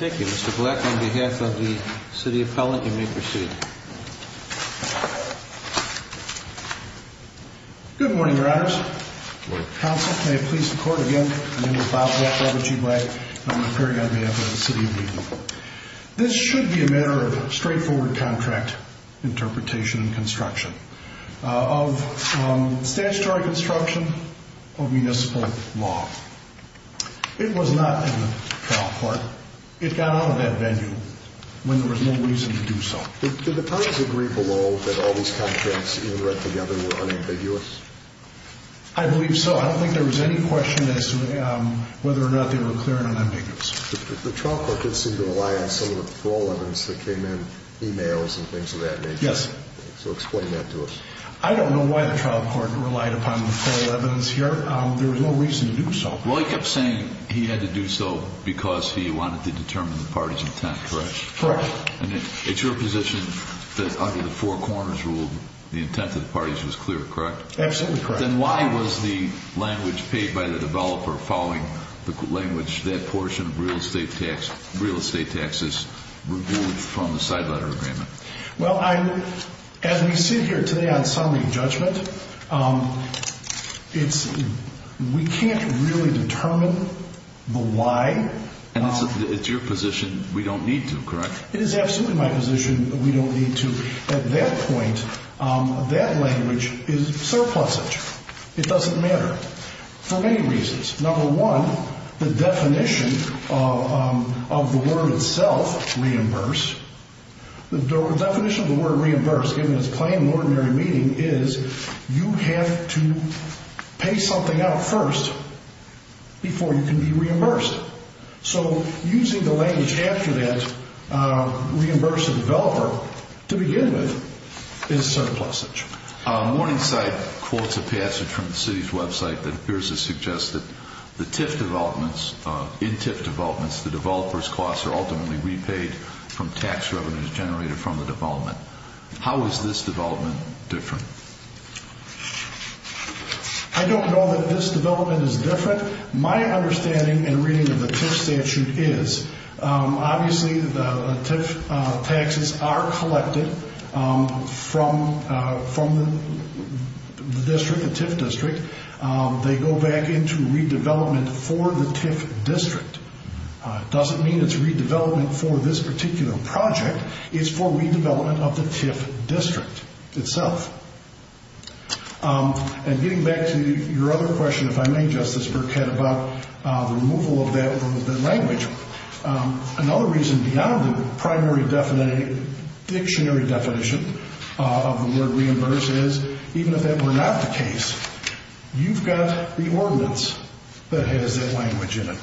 Thank you, Mr. Black, on behalf of the City Appellant, you may proceed. Good morning, Your Honors. Counsel, may it please the Court again, my name is Bob Black, a.k.a. G. Black, and I'm appearing on behalf of the City of Wheaton. This should be a matter of straightforward contract interpretation and construction of statutory construction of municipal law. It was not in the trial court. It got out of that venue when there was no reason to do so. Did the parties agree below that all these contracts, even read together, were unambiguous? I believe so. I don't think there was any question as to whether or not they were clear and unambiguous. The trial court did seem to rely on some of the parole evidence that came in, e-mails and things of that nature. Yes. So explain that to us. I don't know why the trial court relied upon the parole evidence here. There was no reason to do so. Well, he kept saying he had to do so because he wanted to determine the parties' intent, correct? Correct. And it's your position that under the four corners rule the intent of the parties was clear, correct? Absolutely correct. Then why was the language paid by the developer following the language that portion of real estate taxes removed from the side letter agreement? Well, as we sit here today on summary judgment, we can't really determine the why. And it's your position we don't need to, correct? It is absolutely my position that we don't need to. At that point, that language is surplusage. It doesn't matter for many reasons. Number one, the definition of the word itself, reimburse, the definition of the word reimburse, given its plain and ordinary meaning, is you have to pay something out first before you can be reimbursed. So using the language after that, reimburse the developer, to begin with, is surplusage. Morningside quotes a passage from the city's website that appears to suggest that the TIF developments, in TIF developments, the developer's costs are ultimately repaid from tax revenues generated from the development. How is this development different? I don't know that this development is different. My understanding and reading of the TIF statute is obviously the TIF taxes are collected from the district, the TIF district. They go back into redevelopment for the TIF district. It doesn't mean it's redevelopment for this particular project. It's for redevelopment of the TIF district itself. And getting back to your other question, if I may, Justice Burkett, about the removal of that word, the language, another reason beyond the primary dictionary definition of the word reimburse is, even if that were not the case, you've got the ordinance that has that language in it.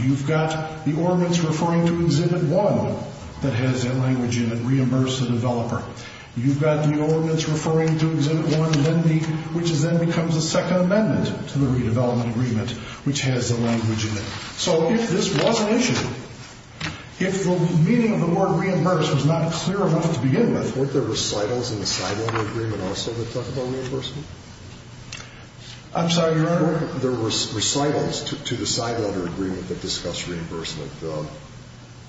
You've got the ordinance referring to Exhibit 1 that has that language in it, reimburse the developer. You've got the ordinance referring to Exhibit 1, which then becomes a second amendment to the redevelopment agreement, which has the language in it. So if this was an issue, if the meaning of the word reimburse was not clear enough to begin with... Weren't there recitals in the side letter agreement also that talked about reimbursement? I'm sorry, Your Honor? Weren't there recitals to the side letter agreement that discussed reimbursement?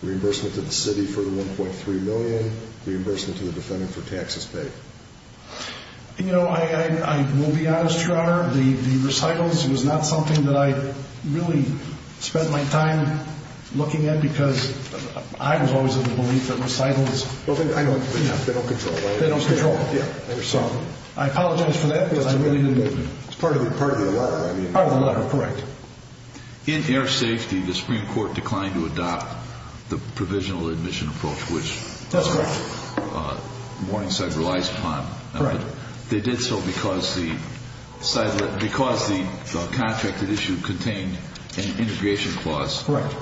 Reimbursement to the city for the $1.3 million, reimbursement to the defendant for taxes paid? You know, I will be honest, Your Honor, the recitals was not something that I really spent my time looking at because I was always of the belief that recitals... Well, they don't control it, right? They don't control it. Yeah. I apologize for that because I really didn't... It's part of the law. Part of the law, correct. In air safety, the Supreme Court declined to adopt the provisional admission approach, which... That's correct. ...Morningside relies upon. Correct. But they did so because the contracted issue contained an integration clause. Correct.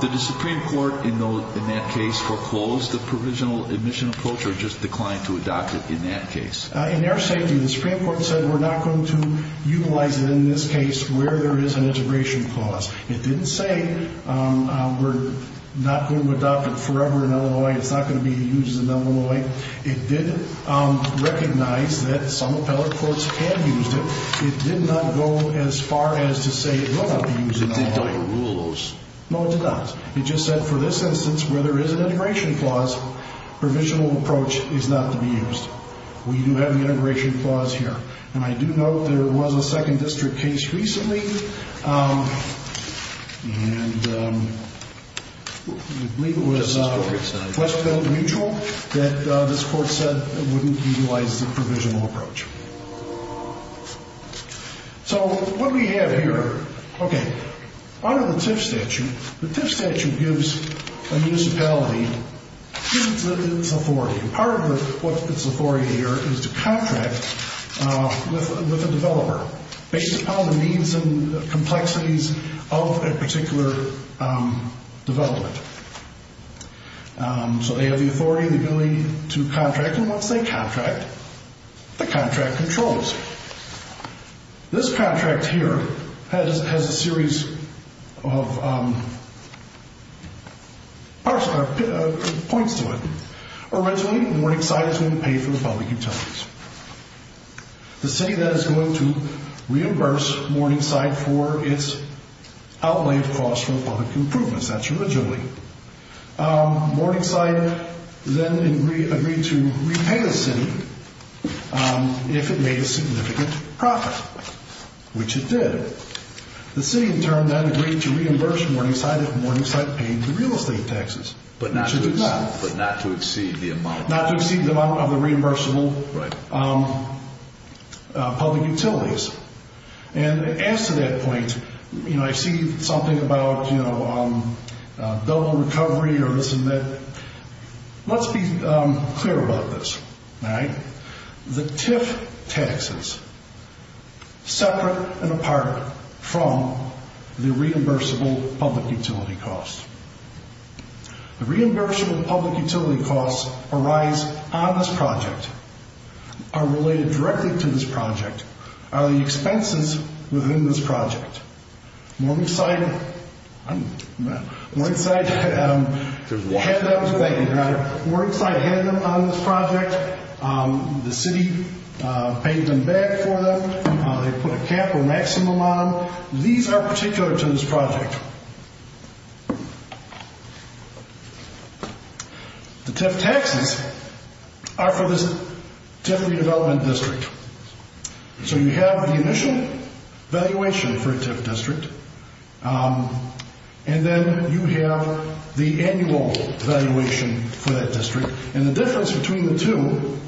Did the Supreme Court in that case foreclose the provisional admission approach or just decline to adopt it in that case? In air safety, the Supreme Court said we're not going to utilize it in this case where there is an integration clause. It didn't say we're not going to adopt it forever in Illinois. It's not going to be used in Illinois. It did recognize that some appellate courts had used it. It did not go as far as to say it will not be used in Illinois. It did not rule those. No, it did not. It just said for this instance where there is an integration clause, provisional approach is not to be used. We do have the integration clause here. And I do note there was a second district case recently, and I believe it was... that this court said it wouldn't utilize the provisional approach. So what we have here... Okay. Under the TIF statute, the TIF statute gives a municipality its authority. Part of what its authority here is to contract with a developer based upon the needs and complexities of a particular development. So they have the authority, the ability to contract. And once they contract, the contract controls. This contract here has a series of points to it. Originally, Morningside is going to pay for the public utilities. The city then is going to reimburse Morningside for its outlayed costs for the public improvements. That's originally. Morningside then agreed to repay the city if it made a significant profit, which it did. The city in turn then agreed to reimburse Morningside if Morningside paid the real estate taxes, which it did not. But not to exceed the amount. Not to exceed the amount of the reimbursable public utilities. And as to that point, I see something about double recovery or this and that. Let's be clear about this. The TIF taxes, separate and apart from the reimbursable public utility costs. The reimbursable public utility costs arise on this project, are related directly to this project, are the expenses within this project. Morningside had them on this project. The city paid them back for them. They put a cap or maximum on them. These are particular to this project. The TIF taxes are for this TIF redevelopment district. So you have the initial valuation for a TIF district. And then you have the annual valuation for that district. And the difference between the two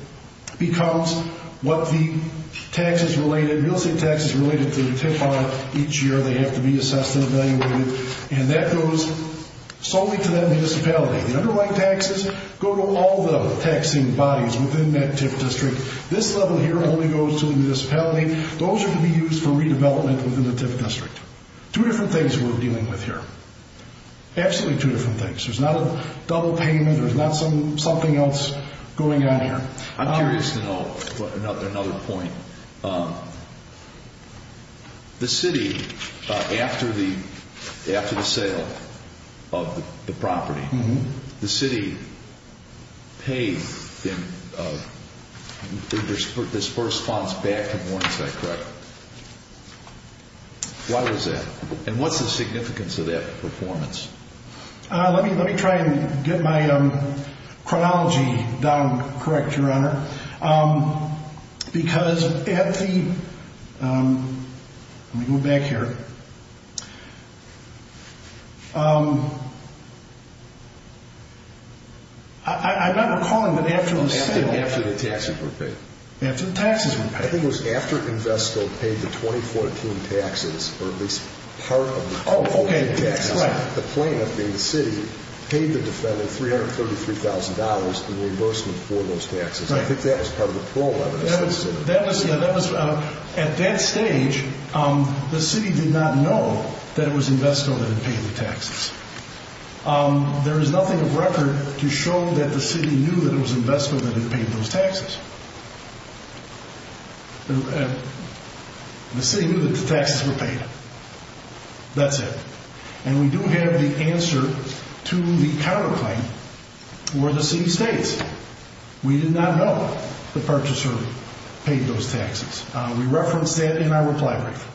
becomes what the real estate taxes related to the TIF are each year. They have to be assessed and evaluated. And that goes solely to that municipality. The underlying taxes go to all the taxing bodies within that TIF district. This level here only goes to the municipality. Those are to be used for redevelopment within the TIF district. Two different things we're dealing with here. Absolutely two different things. There's not a double payment. There's not something else going on here. I'm curious to know another point. The city, after the sale of the property, the city paid this first response back to Morningside, correct? Why was that? And what's the significance of that performance? Let me try and get my chronology down correct, Your Honor. Because at the, let me go back here. I'm not recalling, but after the sale. After the taxes were paid. After the taxes were paid. I think it was after Invesco paid the 2014 taxes, or at least part of the 2014 taxes. The plaintiff being the city, paid the defendant $333,000 in reimbursement for those taxes. I think that was part of the problem. At that stage, the city did not know that it was Invesco that had paid the taxes. There is nothing of record to show that the city knew that it was Invesco that had paid those taxes. The city knew that the taxes were paid. That's it. And we do have the answer to the counterclaim, were the city states. We did not know the purchaser paid those taxes. We referenced that in our reply brief.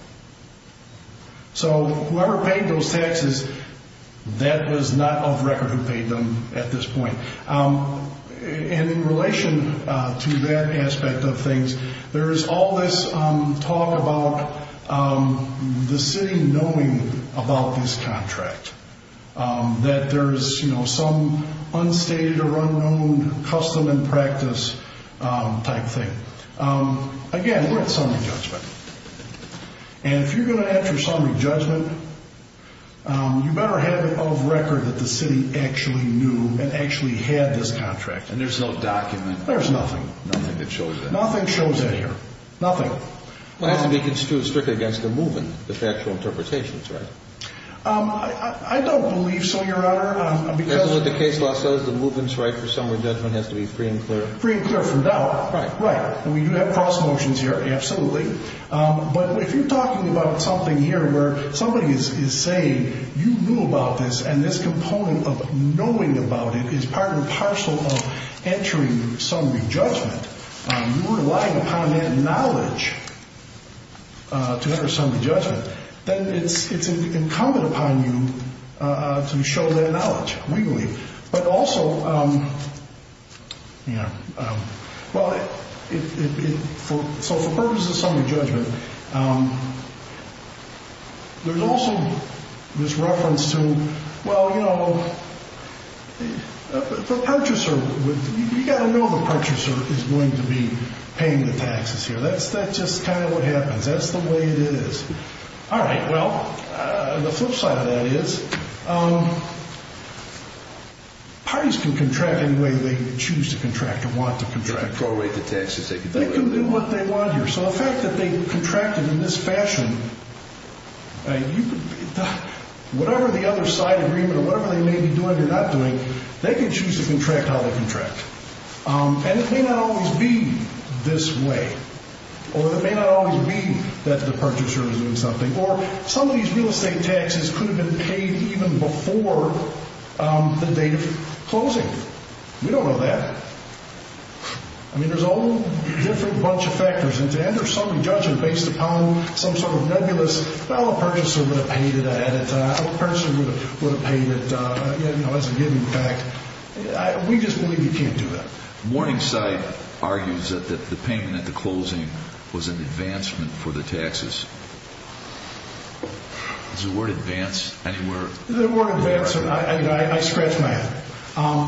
So, whoever paid those taxes, that was not of record who paid them at this point. In relation to that aspect of things, there is all this talk about the city knowing about this contract. That there is some unstated or unknown custom and practice type thing. Again, we're at summary judgment. And if you're going to enter summary judgment, you better have it of record that the city actually knew and actually had this contract. And there's no document. There's nothing. Nothing that shows that. Nothing shows that here. Nothing. Well, it has to be construed strictly against the movement, the factual interpretations, right? I don't believe so, Your Honor. Because what the case law says, the movement's right for summary judgment has to be free and clear. Free and clear from doubt. Right. Right. And we do have cross motions here. Absolutely. But if you're talking about something here where somebody is saying you knew about this and this component of knowing about it is part and parcel of entering summary judgment. You're relying upon that knowledge to enter summary judgment. Then it's incumbent upon you to show that knowledge, legally. But also, you know, so for purposes of summary judgment, there's also this reference to, well, you know, the purchaser, you've got to know the purchaser is going to be paying the taxes here. That's just kind of what happens. That's the way it is. All right. Well, the flip side of that is parties can contract any way they choose to contract and want to contract. They can prolate the taxes. They can do what they want here. So the fact that they contracted in this fashion, whatever the other side agreement or whatever they may be doing or not doing, they can choose to contract how they contract. And it may not always be this way. Or it may not always be that the purchaser is doing something. Or some of these real estate taxes could have been paid even before the date of closing. We don't know that. I mean, there's a whole different bunch of factors. And to enter summary judgment based upon some sort of nebulous, well, a purchaser would have paid it ahead of time. A purchaser would have paid it, you know, as a given fact. We just believe you can't do that. Morningside argues that the payment at the closing was an advancement for the taxes. Is the word advance anywhere? The word advance, I scratch my head.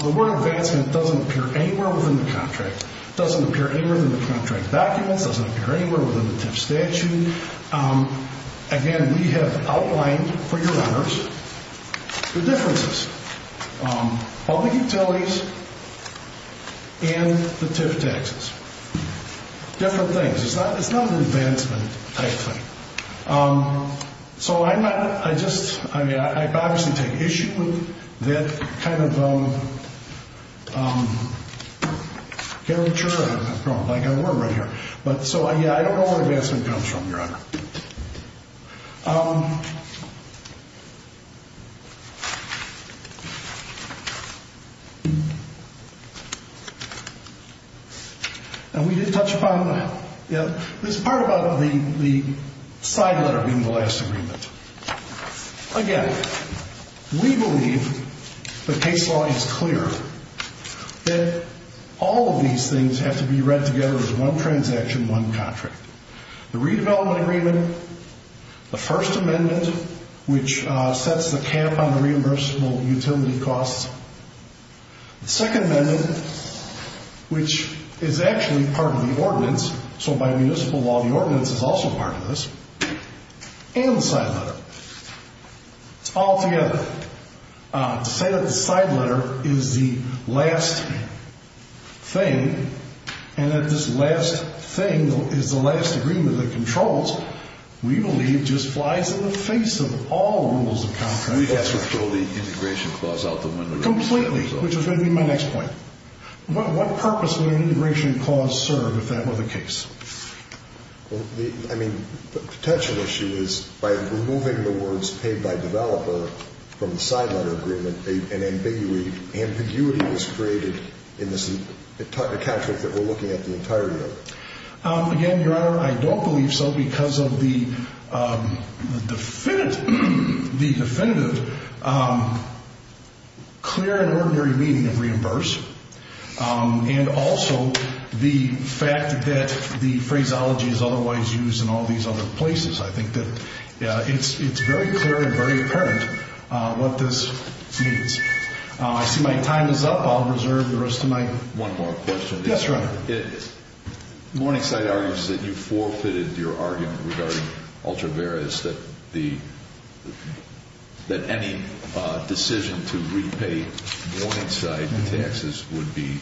The word advancement doesn't appear anywhere within the contract. It doesn't appear anywhere within the contract documents. It doesn't appear anywhere within the TIF statute. Again, we have outlined for your honors the differences. Public utilities and the TIF taxes. Different things. It's not an advancement type thing. So I just, I mean, I obviously take issue with that kind of caricature. I've got a word right here. So, yeah, I don't know where advancement comes from, your honor. And we did touch upon, you know, this part about the side letter being the last agreement. Again, we believe the case law is clear that all of these things have to be read together as one transaction, one contract. The redevelopment agreement. The first amendment, which sets the cap on the reimbursable utility costs. The second amendment, which is actually part of the ordinance. So by municipal law, the ordinance is also part of this. And the side letter. It's all together. To say that the side letter is the last thing and that this last thing is the last agreement that controls, we believe just flies in the face of all rules of contract. We have to throw the integration clause out the window. Completely. Which is going to be my next point. What purpose would an integration clause serve if that were the case? I mean, the potential issue is by removing the words paid by developer from the side letter agreement, an ambiguity is created in this account that we're looking at the entirety of. Again, your honor, I don't believe so because of the definitive, the definitive, clear and ordinary meaning of reimburse. And also the fact that the phraseology is otherwise used in all these other places. I think that it's very clear and very apparent what this means. I see my time is up. I'll reserve the rest of my one more question. Morningside argues that you forfeited your argument regarding ultra various that the. That any decision to repay Morningside taxes would be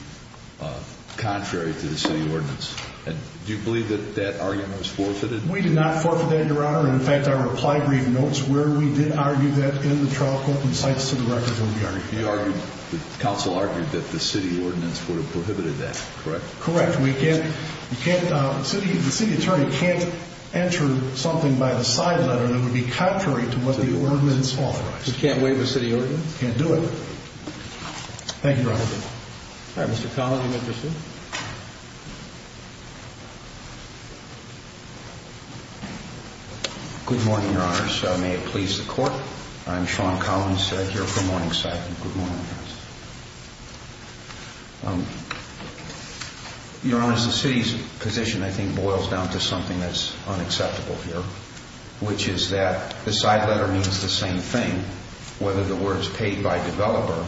contrary to the city ordinance. And do you believe that that argument was forfeited? We did not forfeit that your honor. In fact, our reply brief notes where we did argue that in the trial court insights to the record. The council argued that the city ordinance would have prohibited that. Correct. Correct. We can't. You can't. The city attorney can't enter something by the side letter that would be contrary to what the ordinance authorized. We can't waive a city ordinance. Can't do it. Thank you. Good morning, your honors. May it please the court. I'm Sean Collins here for Morningside. Good morning. Your honors, the city's position, I think, boils down to something that's unacceptable here, which is that the side letter means the same thing. Whether the words paid by developer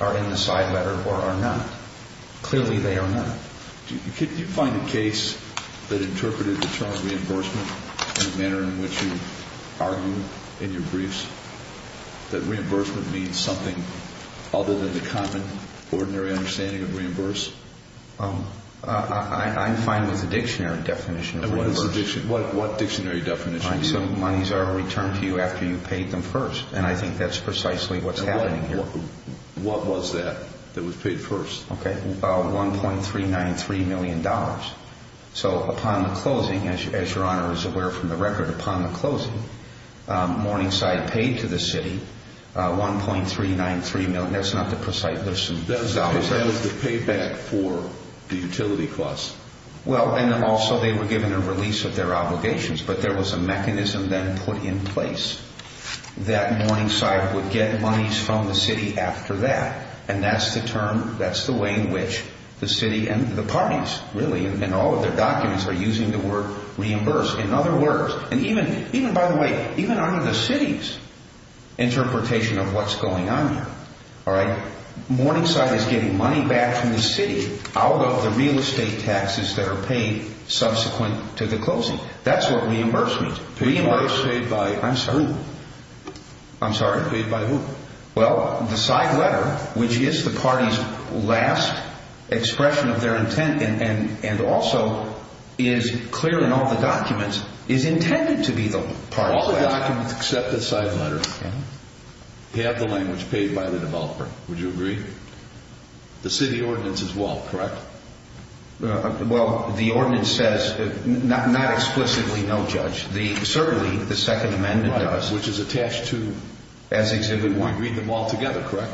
are in the side letter or are not. Clearly, they are not. Do you find a case that interpreted the term reimbursement in a manner in which you argue in your briefs that reimbursement means something other than the common, ordinary understanding of reimburse? I'm fine with the dictionary definition of reimbursement. What dictionary definition? Some monies are returned to you after you paid them first. And I think that's precisely what's happening here. What was that that was paid first? Okay. $1.393 million. So upon the closing, as your honor is aware from the record, upon the closing, Morningside paid to the city $1.393 million. That's not the precise dollars. That is the payback for the utility costs. Well, and then also they were given a release of their obligations. But there was a mechanism then put in place that Morningside would get monies from the city after that. And that's the term, that's the way in which the city and the parties, really, and all of their documents are using the word reimburse. In other words, and even by the way, even under the city's interpretation of what's going on here, all right, Morningside is getting money back from the city out of the real estate taxes that are paid subsequent to the closing. That's what reimburse means. Paid by who? I'm sorry? Paid by who? Well, the side letter, which is the party's last expression of their intent and also is clear in all the documents, is intended to be the party's last. All the documents except the side letter have the language paid by the developer. Would you agree? The city ordinance as well, correct? Well, the ordinance says not explicitly no judge. Certainly, the Second Amendment does. Right, which is attached to? As Exhibit 1. We read them all together, correct?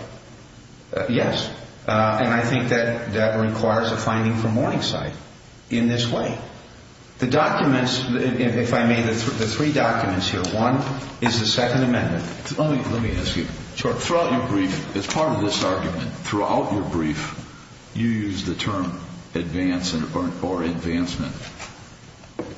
Yes. And I think that that requires a finding from Morningside in this way. The documents, if I may, the three documents here, one is the Second Amendment. Let me ask you. Sure. Throughout your brief, as part of this argument, throughout your brief, you used the term advance or advancement.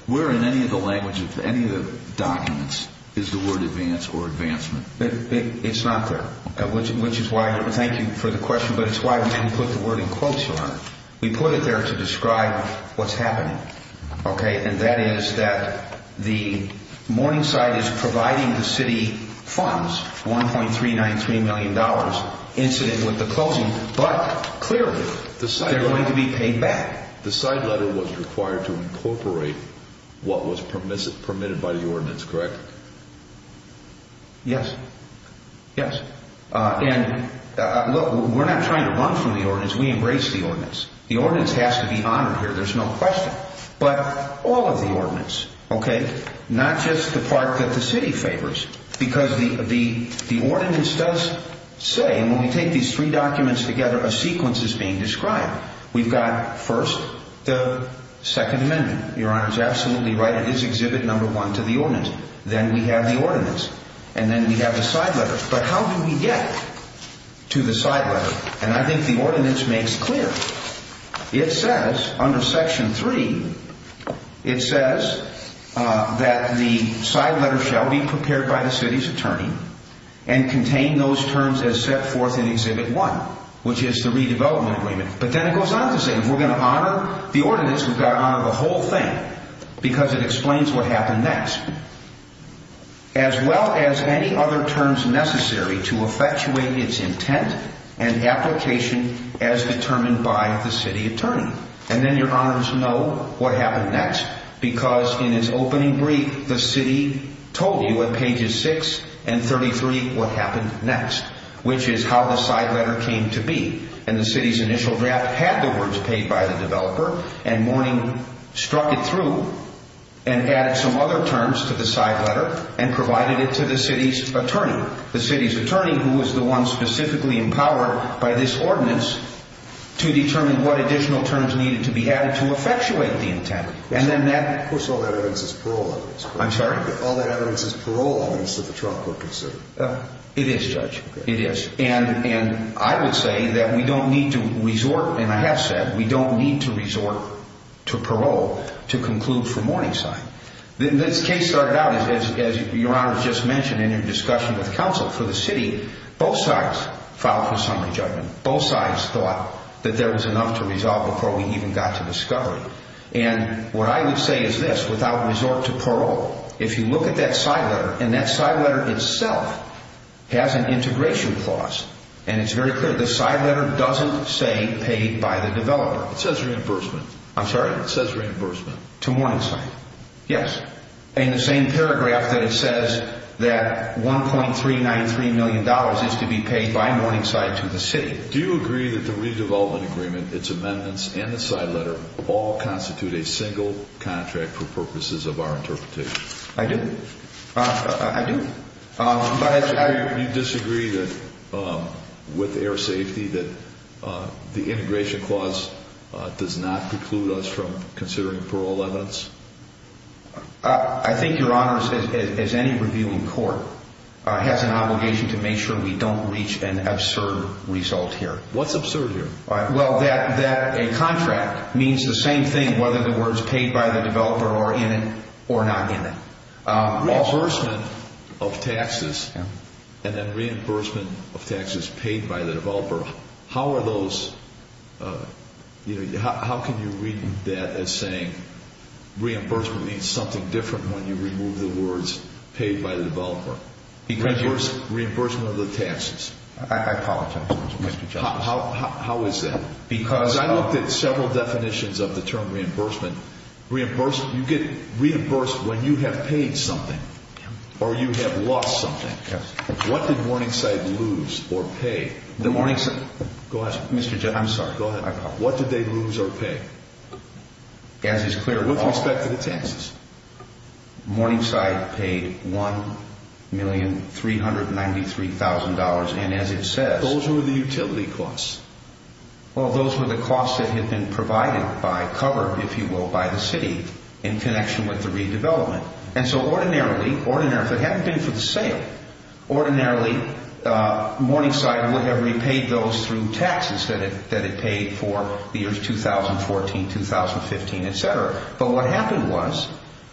Where in any of the language of any of the documents is the word advance or advancement? It's not there, which is why I thank you for the question, but it's why we didn't put the word in quotes on it. We put it there to describe what's happening. Okay, and that is that the Morningside is providing the city funds, $1.393 million incident with the closing, but clearly they're going to be paid back. The side letter was required to incorporate what was permitted by the ordinance, correct? Yes. Yes. And look, we're not trying to run from the ordinance. We embrace the ordinance. The ordinance has to be honored here. There's no question. But all of the ordinance, okay, not just the part that the city favors, because the ordinance does say, and when we take these three documents together, a sequence is being described. We've got, first, the Second Amendment. Your Honor is absolutely right. It is Exhibit No. 1 to the ordinance. Then we have the ordinance, and then we have the side letter. But how do we get to the side letter? And I think the ordinance makes clear. It says under Section 3, it says that the side letter shall be prepared by the city's attorney and contain those terms as set forth in Exhibit 1, which is the redevelopment agreement. But then it goes on to say if we're going to honor the ordinance, we've got to honor the whole thing because it explains what happened next. As well as any other terms necessary to effectuate its intent and application as determined by the city attorney. And then your honors know what happened next because in its opening brief, the city told you at pages 6 and 33 what happened next, which is how the side letter came to be. And the city's initial draft had the words paid by the developer, and Mourning struck it through and added some other terms to the side letter and provided it to the city's attorney. The city's attorney, who was the one specifically empowered by this ordinance to determine what additional terms needed to be added to effectuate the intent. Of course, all that evidence is parole evidence. I'm sorry? All that evidence is parole evidence that the trial court considered. It is, Judge. It is. And I would say that we don't need to resort, and I have said, we don't need to resort to parole to conclude for Mourning's side. This case started out, as your honors just mentioned in your discussion with counsel, for the city, both sides filed for summary judgment. Both sides thought that there was enough to resolve before we even got to discovery. And what I would say is this, without resort to parole, if you look at that side letter, and that side letter itself has an integration clause, and it's very clear. The side letter doesn't say paid by the developer. It says reimbursement. I'm sorry? It says reimbursement. To Mourningside. Yes. In the same paragraph that it says that $1.393 million is to be paid by Mourningside to the city. Do you agree that the redevelopment agreement, its amendments, and the side letter all constitute a single contract for purposes of our interpretation? I do. I do. Do you disagree with air safety that the integration clause does not preclude us from considering parole evidence? I think your honors, as any review in court, has an obligation to make sure we don't reach an absurd result here. What's absurd here? Well, that a contract means the same thing whether the word is paid by the developer or not in it. Reimbursement of taxes and then reimbursement of taxes paid by the developer, how are those, you know, how can you read that as saying reimbursement means something different when you remove the words paid by the developer? Reimbursement of the taxes. I apologize. How is that? Because I looked at several definitions of the term reimbursement. Reimbursement, you get reimbursed when you have paid something or you have lost something. What did Mourningside lose or pay? The Mourningside. Go ahead, Mr. Judge. I'm sorry. Go ahead. What did they lose or pay? As is clear. With respect to the taxes. Mourningside paid $1,393,000 and as it says. Those were the utility costs. Well, those were the costs that had been provided by cover, if you will, by the city in connection with the redevelopment. And so ordinarily, if it hadn't been for the sale, ordinarily Mourningside would have repaid those through taxes that it paid for the years 2014, 2015, etc. But what happened was,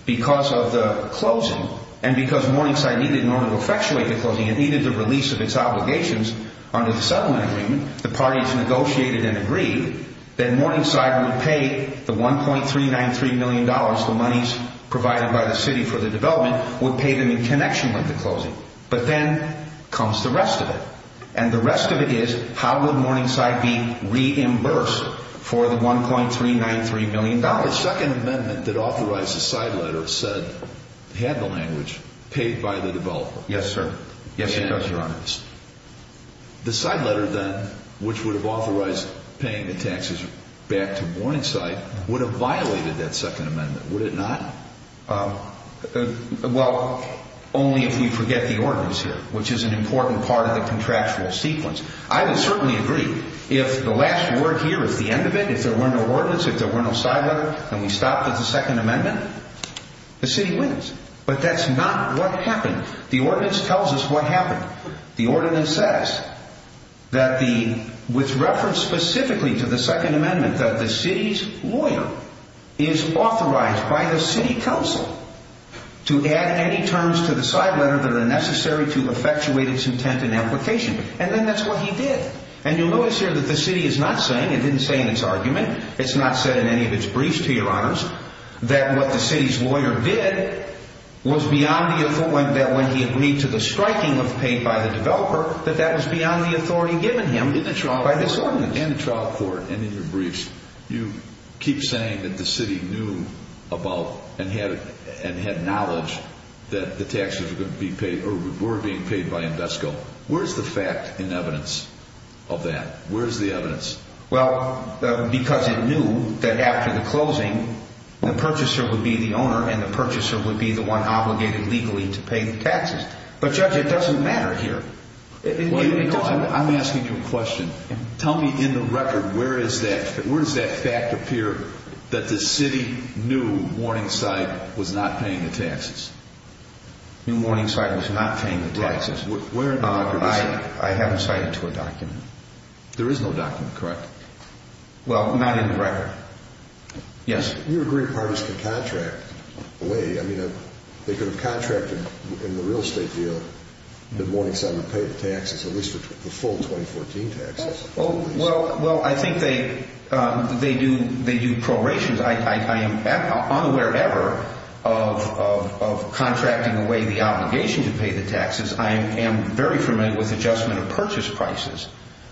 because of the closing and because Mourningside needed, in order to effectuate the closing, it needed the release of its obligations under the settlement agreement. The parties negotiated and agreed that Mourningside would pay the $1,393,000,000, the monies provided by the city for the development, would pay them in connection with the closing. But then comes the rest of it. And the rest of it is how would Mourningside be reimbursed for the $1,393,000,000? Now, the second amendment that authorized the side letter said, had the language, paid by the developer. Yes, sir. Yes, it does, Your Honor. The side letter then, which would have authorized paying the taxes back to Mourningside, would have violated that second amendment, would it not? Well, only if we forget the ordinance here, which is an important part of the contractual sequence. I would certainly agree, if the last word here is the end of it, if there were no ordinance, if there were no side letter, and we stopped at the second amendment, the city wins. But that's not what happened. The ordinance tells us what happened. The ordinance says that the, with reference specifically to the second amendment, that the city's lawyer is authorized by the city council to add any terms to the side letter that are necessary to effectuate its intent and application. And then that's what he did. And you'll notice here that the city is not saying, it didn't say in its argument, it's not said in any of its briefs to Your Honors, that what the city's lawyer did was beyond the authority, that when he agreed to the striking of paid by the developer, that that was beyond the authority given him by this ordinance. In the trial court and in your briefs, you keep saying that the city knew about and had knowledge that the taxes were being paid by Invesco. Where's the fact and evidence of that? Where's the evidence? Well, because it knew that after the closing, the purchaser would be the owner and the purchaser would be the one obligated legally to pay the taxes. But Judge, it doesn't matter here. I'm asking you a question. Tell me in the record, where is that? Where does that fact appear that the city knew Morningside was not paying the taxes? New Morningside was not paying the taxes. Where in the record is that? I haven't cited to a document. There is no document, correct? Well, not in the record. Yes. You agree parties can contract away. I mean, they could have contracted in the real estate deal that Morningside would pay the taxes, at least the full 2014 taxes. Well, I think they do prorations. I am unaware ever of contracting away the obligation to pay the taxes. I am very familiar with adjustment of purchase prices.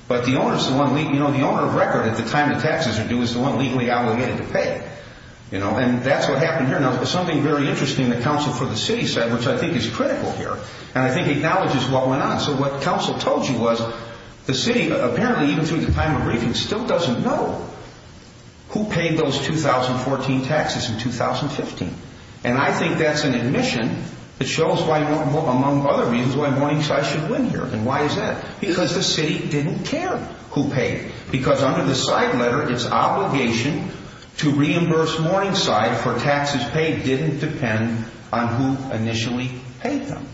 But the owner of record at the time the taxes are due is the one legally obligated to pay. And that's what happened here. Now, something very interesting the counsel for the city said, which I think is critical here, and I think acknowledges what went on. So what counsel told you was the city, apparently even through the time of briefing, still doesn't know who paid those 2014 taxes in 2015. And I think that's an admission that shows, among other reasons, why Morningside should win here. And why is that? Because the city didn't care who paid. Because under the side letter, its obligation to reimburse Morningside for taxes paid didn't depend on who initially paid them.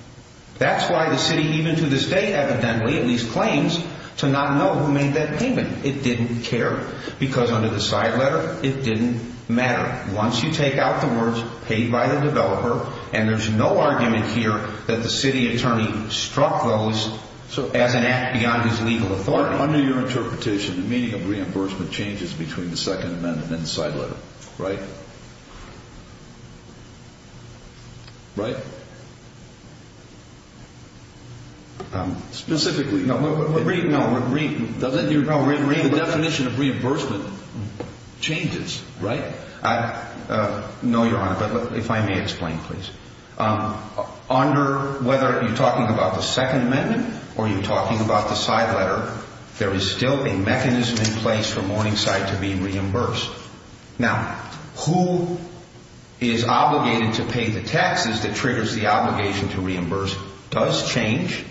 That's why the city, even to this day, evidently, at least claims to not know who made that payment. It didn't care. Because under the side letter, it didn't matter. Once you take out the words, paid by the developer, and there's no argument here that the city attorney struck those as an act beyond his legal authority. Under your interpretation, the meaning of reimbursement changes between the second amendment and the side letter, right? Right? Specifically. No. Read. No. Read the definition of reimbursement changes, right? No, Your Honor, but if I may explain, please. Under whether you're talking about the second amendment or you're talking about the side letter, there is still a mechanism in place for Morningside to be reimbursed. Now, who is obligated to pay the taxes that triggers the obligation to reimburse does change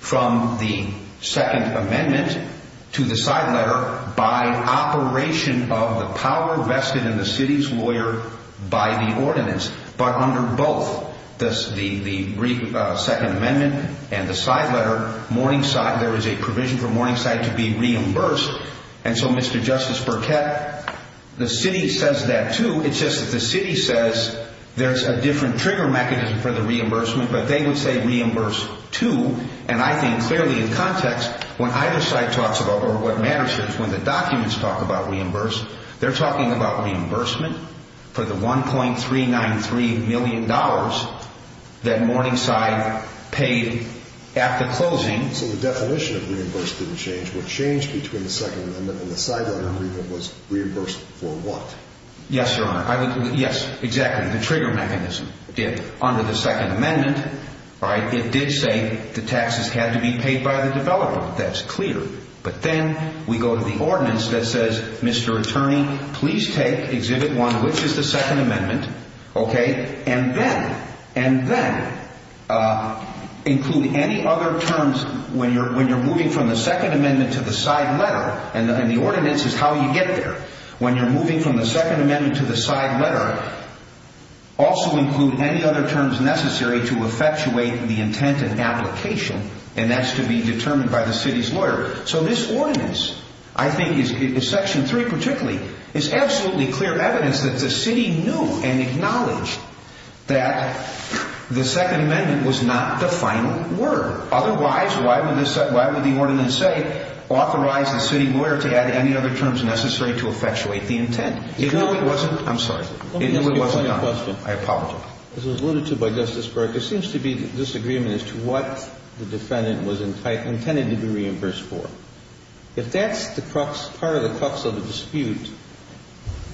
from the second amendment to the side letter by operation of the power vested in the city's lawyer by the ordinance. But under both the second amendment and the side letter, Morningside, there is a provision for Morningside to be reimbursed. And so, Mr. Justice Burkett, the city says that, too. It's just that the city says there's a different trigger mechanism for the reimbursement, but they would say reimburse, too. And I think clearly in context, when either side talks about or what matters is when the documents talk about reimburse, they're talking about reimbursement for the $1.393 million that Morningside paid at the closing. So the definition of reimbursement didn't change. What changed between the second amendment and the side letter agreement was reimbursed for what? Yes, Your Honor. Yes, exactly. The trigger mechanism did. Under the second amendment, it did say the taxes had to be paid by the developer. That's clear. But then we go to the ordinance that says, Mr. Attorney, please take Exhibit 1, which is the second amendment, and then include any other terms when you're moving from the second amendment to the side letter. And the ordinance is how you get there. When you're moving from the second amendment to the side letter, also include any other terms necessary to effectuate the intent and application, and that's to be determined by the city's lawyer. So this ordinance, I think, is Section 3 particularly, is absolutely clear evidence that the city knew and acknowledged that the second amendment was not the final word. Otherwise, why would this – why would the ordinance say authorize the city lawyer to add any other terms necessary to effectuate the intent? If it wasn't – I'm sorry. Let me ask you a funny question. I apologize. As was alluded to by Justice Breyer, there seems to be disagreement as to what the defendant was intended to be reimbursed for. If that's the crux – part of the crux of the dispute,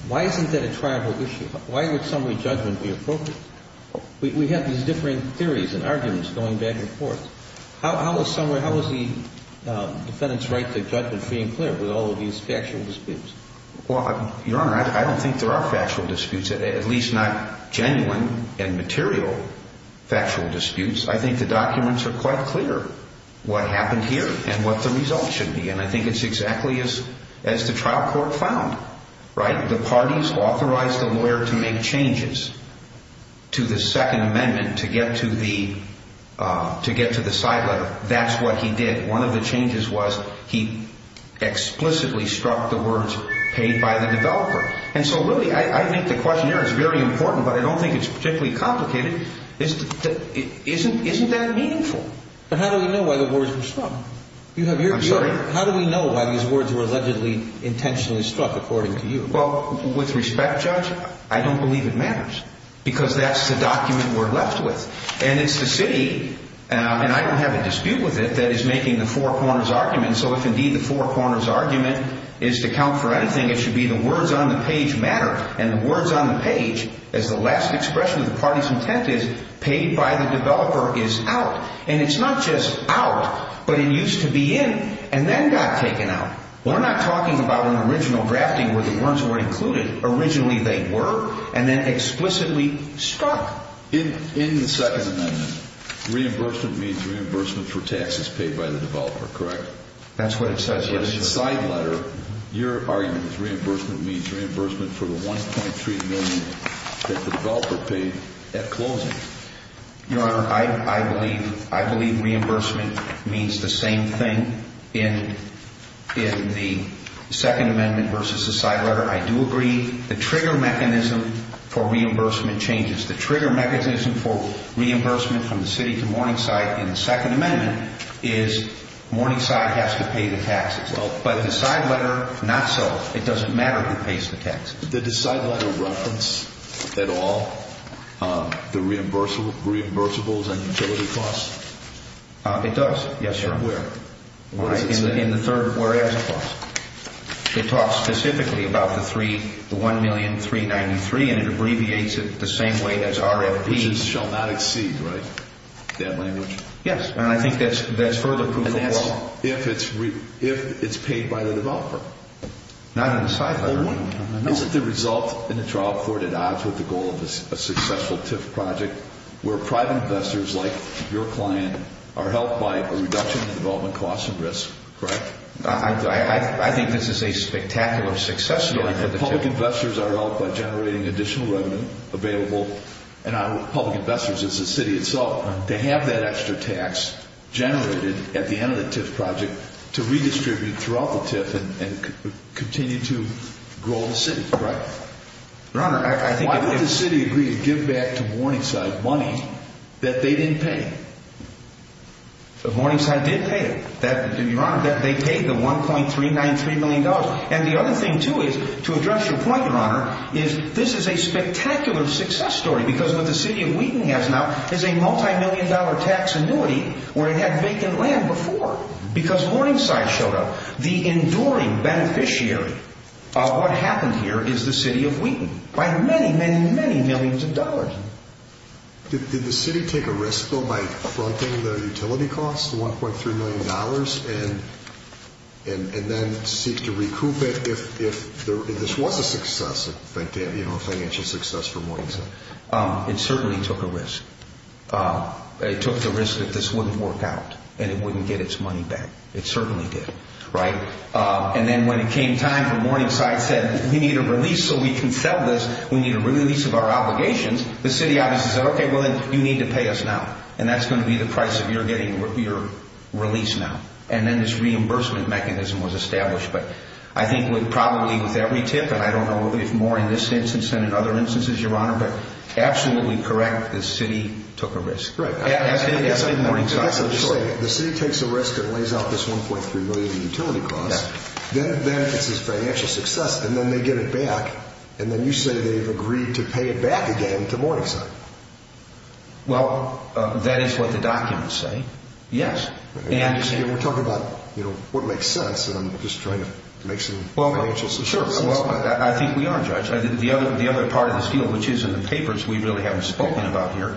why isn't that a tribal issue? Why would summary judgment be appropriate? We have these differing theories and arguments going back and forth. How is summary – how is the defendant's right to judgment free and clear with all of these factual disputes? Well, Your Honor, I don't think there are factual disputes, at least not genuine and material factual disputes. I think the documents are quite clear what happened here and what the results should be. And I think it's exactly as the trial court found, right? The parties authorized the lawyer to make changes to the Second Amendment to get to the – to get to the side letter. That's what he did. One of the changes was he explicitly struck the words paid by the developer. And so, really, I think the questionnaire is very important, but I don't think it's particularly complicated. Isn't that meaningful? But how do we know why the words were struck? I'm sorry? How do we know why these words were allegedly intentionally struck, according to you? Well, with respect, Judge, I don't believe it matters because that's the document we're left with. And it's the city – and I don't have a dispute with it – that is making the four corners argument. So if, indeed, the four corners argument is to count for anything, it should be the words on the page matter. And the words on the page, as the last expression of the party's intent is, paid by the developer is out. And it's not just out, but it used to be in and then got taken out. We're not talking about an original drafting where the words weren't included. Originally they were and then explicitly struck. In the Second Amendment, reimbursement means reimbursement for taxes paid by the developer, correct? That's what it says, yes, Your Honor. But in the side letter, your argument is reimbursement means reimbursement for the $1.3 million that the developer paid at closing. Your Honor, I believe reimbursement means the same thing in the Second Amendment versus the side letter. I do agree the trigger mechanism for reimbursement changes. The trigger mechanism for reimbursement from the city to Morningside in the Second Amendment is Morningside has to pay the taxes. But the side letter, not so. It doesn't matter who pays the taxes. Does the side letter reference at all the reimbursables and utility costs? It does, yes, Your Honor. And where? In the third whereas clause. It talks specifically about the $1,393,000 and it abbreviates it the same way as RFP. Which shall not exceed, right, that language? Yes, and I think that's further proof of law. And that's if it's paid by the developer. Not in the side letter. Isn't the result in the trial court at odds with the goal of a successful TIF project where private investors like your client are helped by a reduction in development costs and risks? Correct. I think this is a spectacular success story. And public investors are helped by generating additional revenue available, and public investors, it's the city itself, to have that extra tax generated at the end of the TIF project to redistribute throughout the TIF and continue to grow the city, right? Your Honor, I think if… Why would the city agree to give back to Morningside money that they didn't pay? Morningside did pay it. Your Honor, they paid the $1,393,000,000. And the other thing, too, is, to address your point, Your Honor, is this is a spectacular success story because what the city of Wheaton has now is a multi-million dollar tax annuity where it had vacant land before. Because Morningside showed up. The enduring beneficiary of what happened here is the city of Wheaton. By many, many, many millions of dollars. Did the city take a risk, though, by fronting the utility costs, the $1.3 million, and then seek to recoup it if this was a success, a financial success for Morningside? It certainly took a risk. It took the risk that this wouldn't work out and it wouldn't get its money back. It certainly did, right? And then when it came time for Morningside said, we need a release so we can sell this, we need a release of our obligations, the city obviously said, okay, well, then you need to pay us now. And that's going to be the price of your getting your release now. And then this reimbursement mechanism was established. But I think with probably with every tip, and I don't know if more in this instance than in other instances, Your Honor, but absolutely correct, the city took a risk. I guess I'm just saying, the city takes a risk and lays out this $1.3 million in utility costs, then it benefits as financial success, and then they get it back, and then you say they've agreed to pay it back again to Morningside. Well, that is what the documents say, yes. We're talking about, you know, what makes sense, and I'm just trying to make some financial sense. Well, I think we are, Judge. The other part of this deal, which is in the papers, we really haven't spoken about here.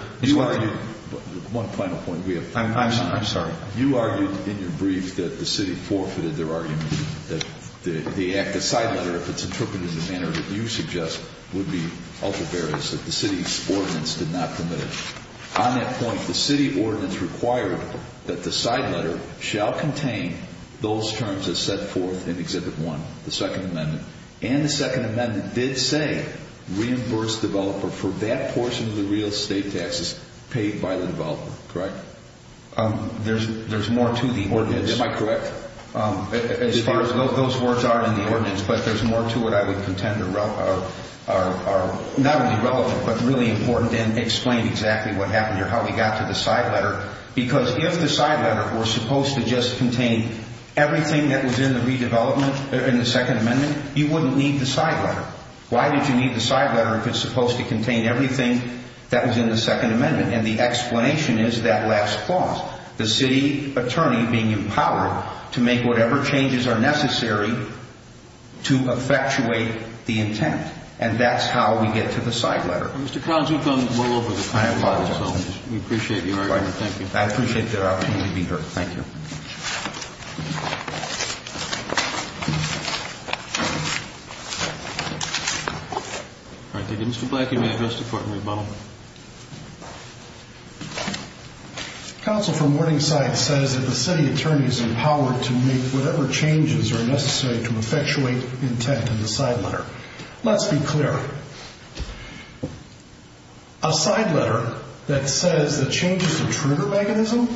One final point. I'm sorry. You argued in your brief that the city forfeited their argument that the side letter, if it's interpreted in the manner that you suggest, would be ultra-various, that the city's ordinance did not commit it. On that point, the city ordinance required that the side letter shall contain those terms as set forth in Exhibit 1, the Second Amendment, and the Second Amendment did say, reimburse developer for that portion of the real estate taxes paid by the developer, correct? There's more to the ordinance. Am I correct? As far as those words are in the ordinance, but there's more to it I would contend are not only relevant but really important and explain exactly what happened here, how we got to the side letter. Because if the side letter were supposed to just contain everything that was in the redevelopment in the Second Amendment, you wouldn't need the side letter. Why did you need the side letter if it's supposed to contain everything that was in the Second Amendment? And the explanation is that last clause, the city attorney being empowered to make whatever changes are necessary to effectuate the intent. And that's how we get to the side letter. Mr. Collins, you've gone well over the time limit, so we appreciate your argument. Thank you. I appreciate the opportunity to be heard. Thank you. All right. Thank you. Mr. Black, you may address the court in rebuttal. Counsel for Morningside says that the city attorney is empowered to make whatever changes are necessary to effectuate intent in the side letter. Let's be clear. A side letter that says the change is a trigger mechanism,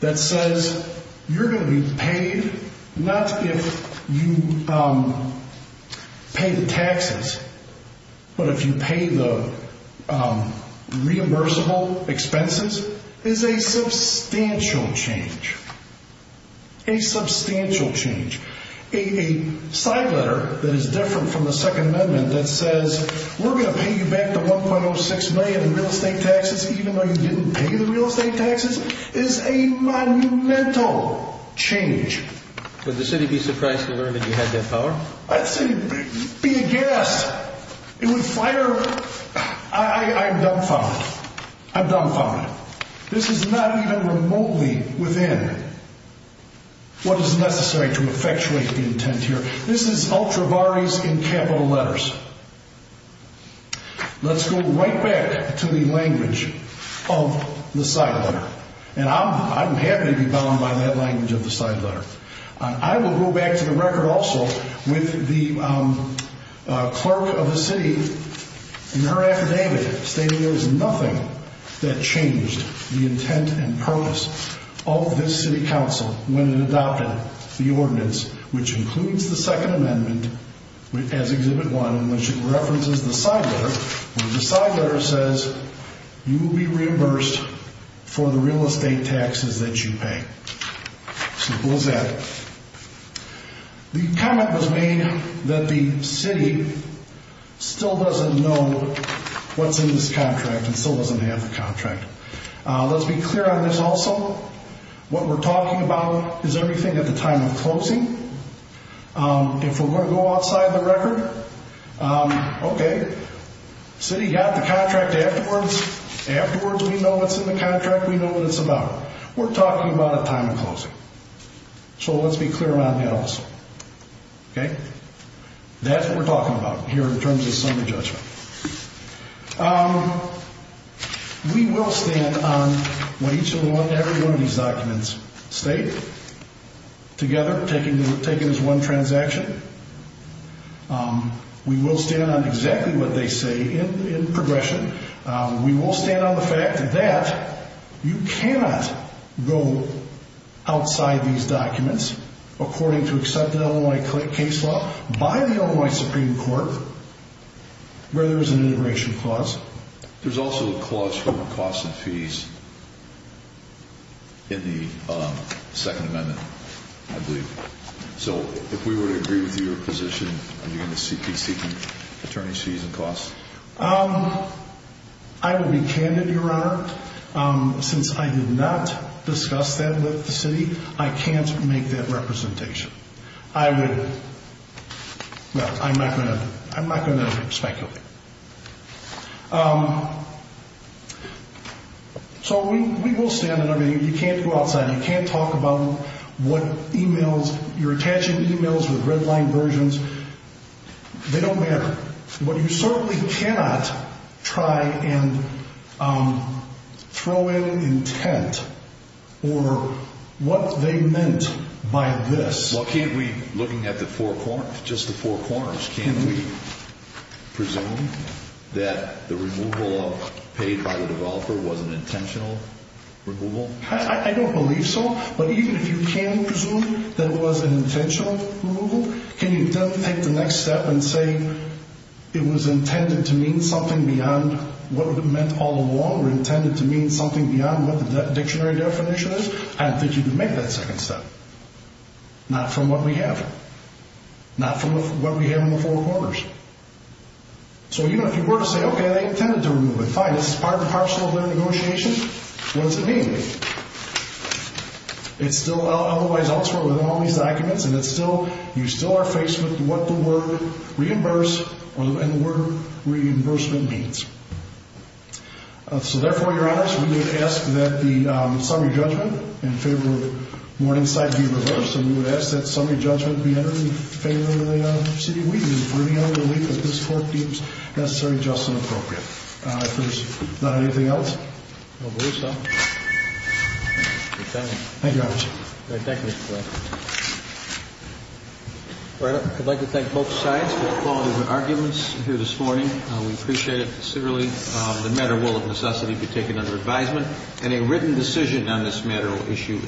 that says you're going to be paid not if you pay the taxes, but if you pay the reimbursable expenses, is a substantial change. A substantial change. A side letter that is different from the Second Amendment that says we're going to pay you back the 1.06 million in real estate taxes even though you didn't pay the real estate taxes is a monumental change. Would the city be surprised to learn that you had that power? I'd say, be a guess. It would fire. I'm dumbfounded. I'm dumbfounded. This is not even remotely within what is necessary to effectuate the intent here. This is ultravaries in capital letters. Let's go right back to the language of the side letter. And I'm happy to be bound by that language of the side letter. I will go back to the record also with the clerk of the city in her affidavit stating there was nothing that changed the intent and purpose of this city council when it adopted the ordinance, which includes the Second Amendment, as Exhibit 1, in which it references the side letter. The side letter says you will be reimbursed for the real estate taxes that you pay. Simple as that. The comment was made that the city still doesn't know what's in this contract and still doesn't have the contract. Let's be clear on this also. What we're talking about is everything at the time of closing. If we're going to go outside the record, okay, city got the contract afterwards. Afterwards, we know what's in the contract. We know what it's about. We're talking about a time of closing. So let's be clear on that also. Okay? That's what we're talking about here in terms of summary judgment. We will stand on what each and every one of these documents state together, taken as one transaction. We will stand on exactly what they say in progression. We will stand on the fact that you cannot go outside these documents according to accepted Illinois case law by the Illinois Supreme Court where there is an integration clause. There's also a clause for costs and fees in the Second Amendment, I believe. So if we were to agree with your position, are you going to be seeking attorney's fees and costs? I will be candid, Your Honor. Since I did not discuss that with the city, I can't make that representation. I would – well, I'm not going to speculate. So we will stand on everything. You can't go outside. You can't talk about what emails – you're attaching emails with red line versions. They don't matter. But you certainly cannot try and throw in intent or what they meant by this. Well, can't we, looking at the four – just the four corners, can't we presume that the removal of paid by the developer was an intentional removal? I don't believe so. But even if you can presume that it was an intentional removal, can you take the next step and say it was intended to mean something beyond what it meant all along or intended to mean something beyond what the dictionary definition is? I don't think you can make that second step. Not from what we have. Not from what we have in the four corners. So even if you were to say, okay, they intended to remove it, fine. This is part and parcel of their negotiation. What does it mean? It's still otherwise elsewhere within all these documents, and it's still – you still are faced with what the word reimburse or the word reimbursement means. So therefore, Your Honors, we would ask that the summary judgment in favor of Morningside be reversed. And we would ask that summary judgment be entered in favor of the city of Wheaton, bringing out a belief that this court deems necessary, just, and appropriate. If there's not anything else. I don't believe so. Thank you, Your Honors. Thank you. I'd like to thank both sides for the quality of their arguments here this morning. We appreciate it sincerely. The matter will, if necessity, be taken under advisement, and a written decision on this matter will issue.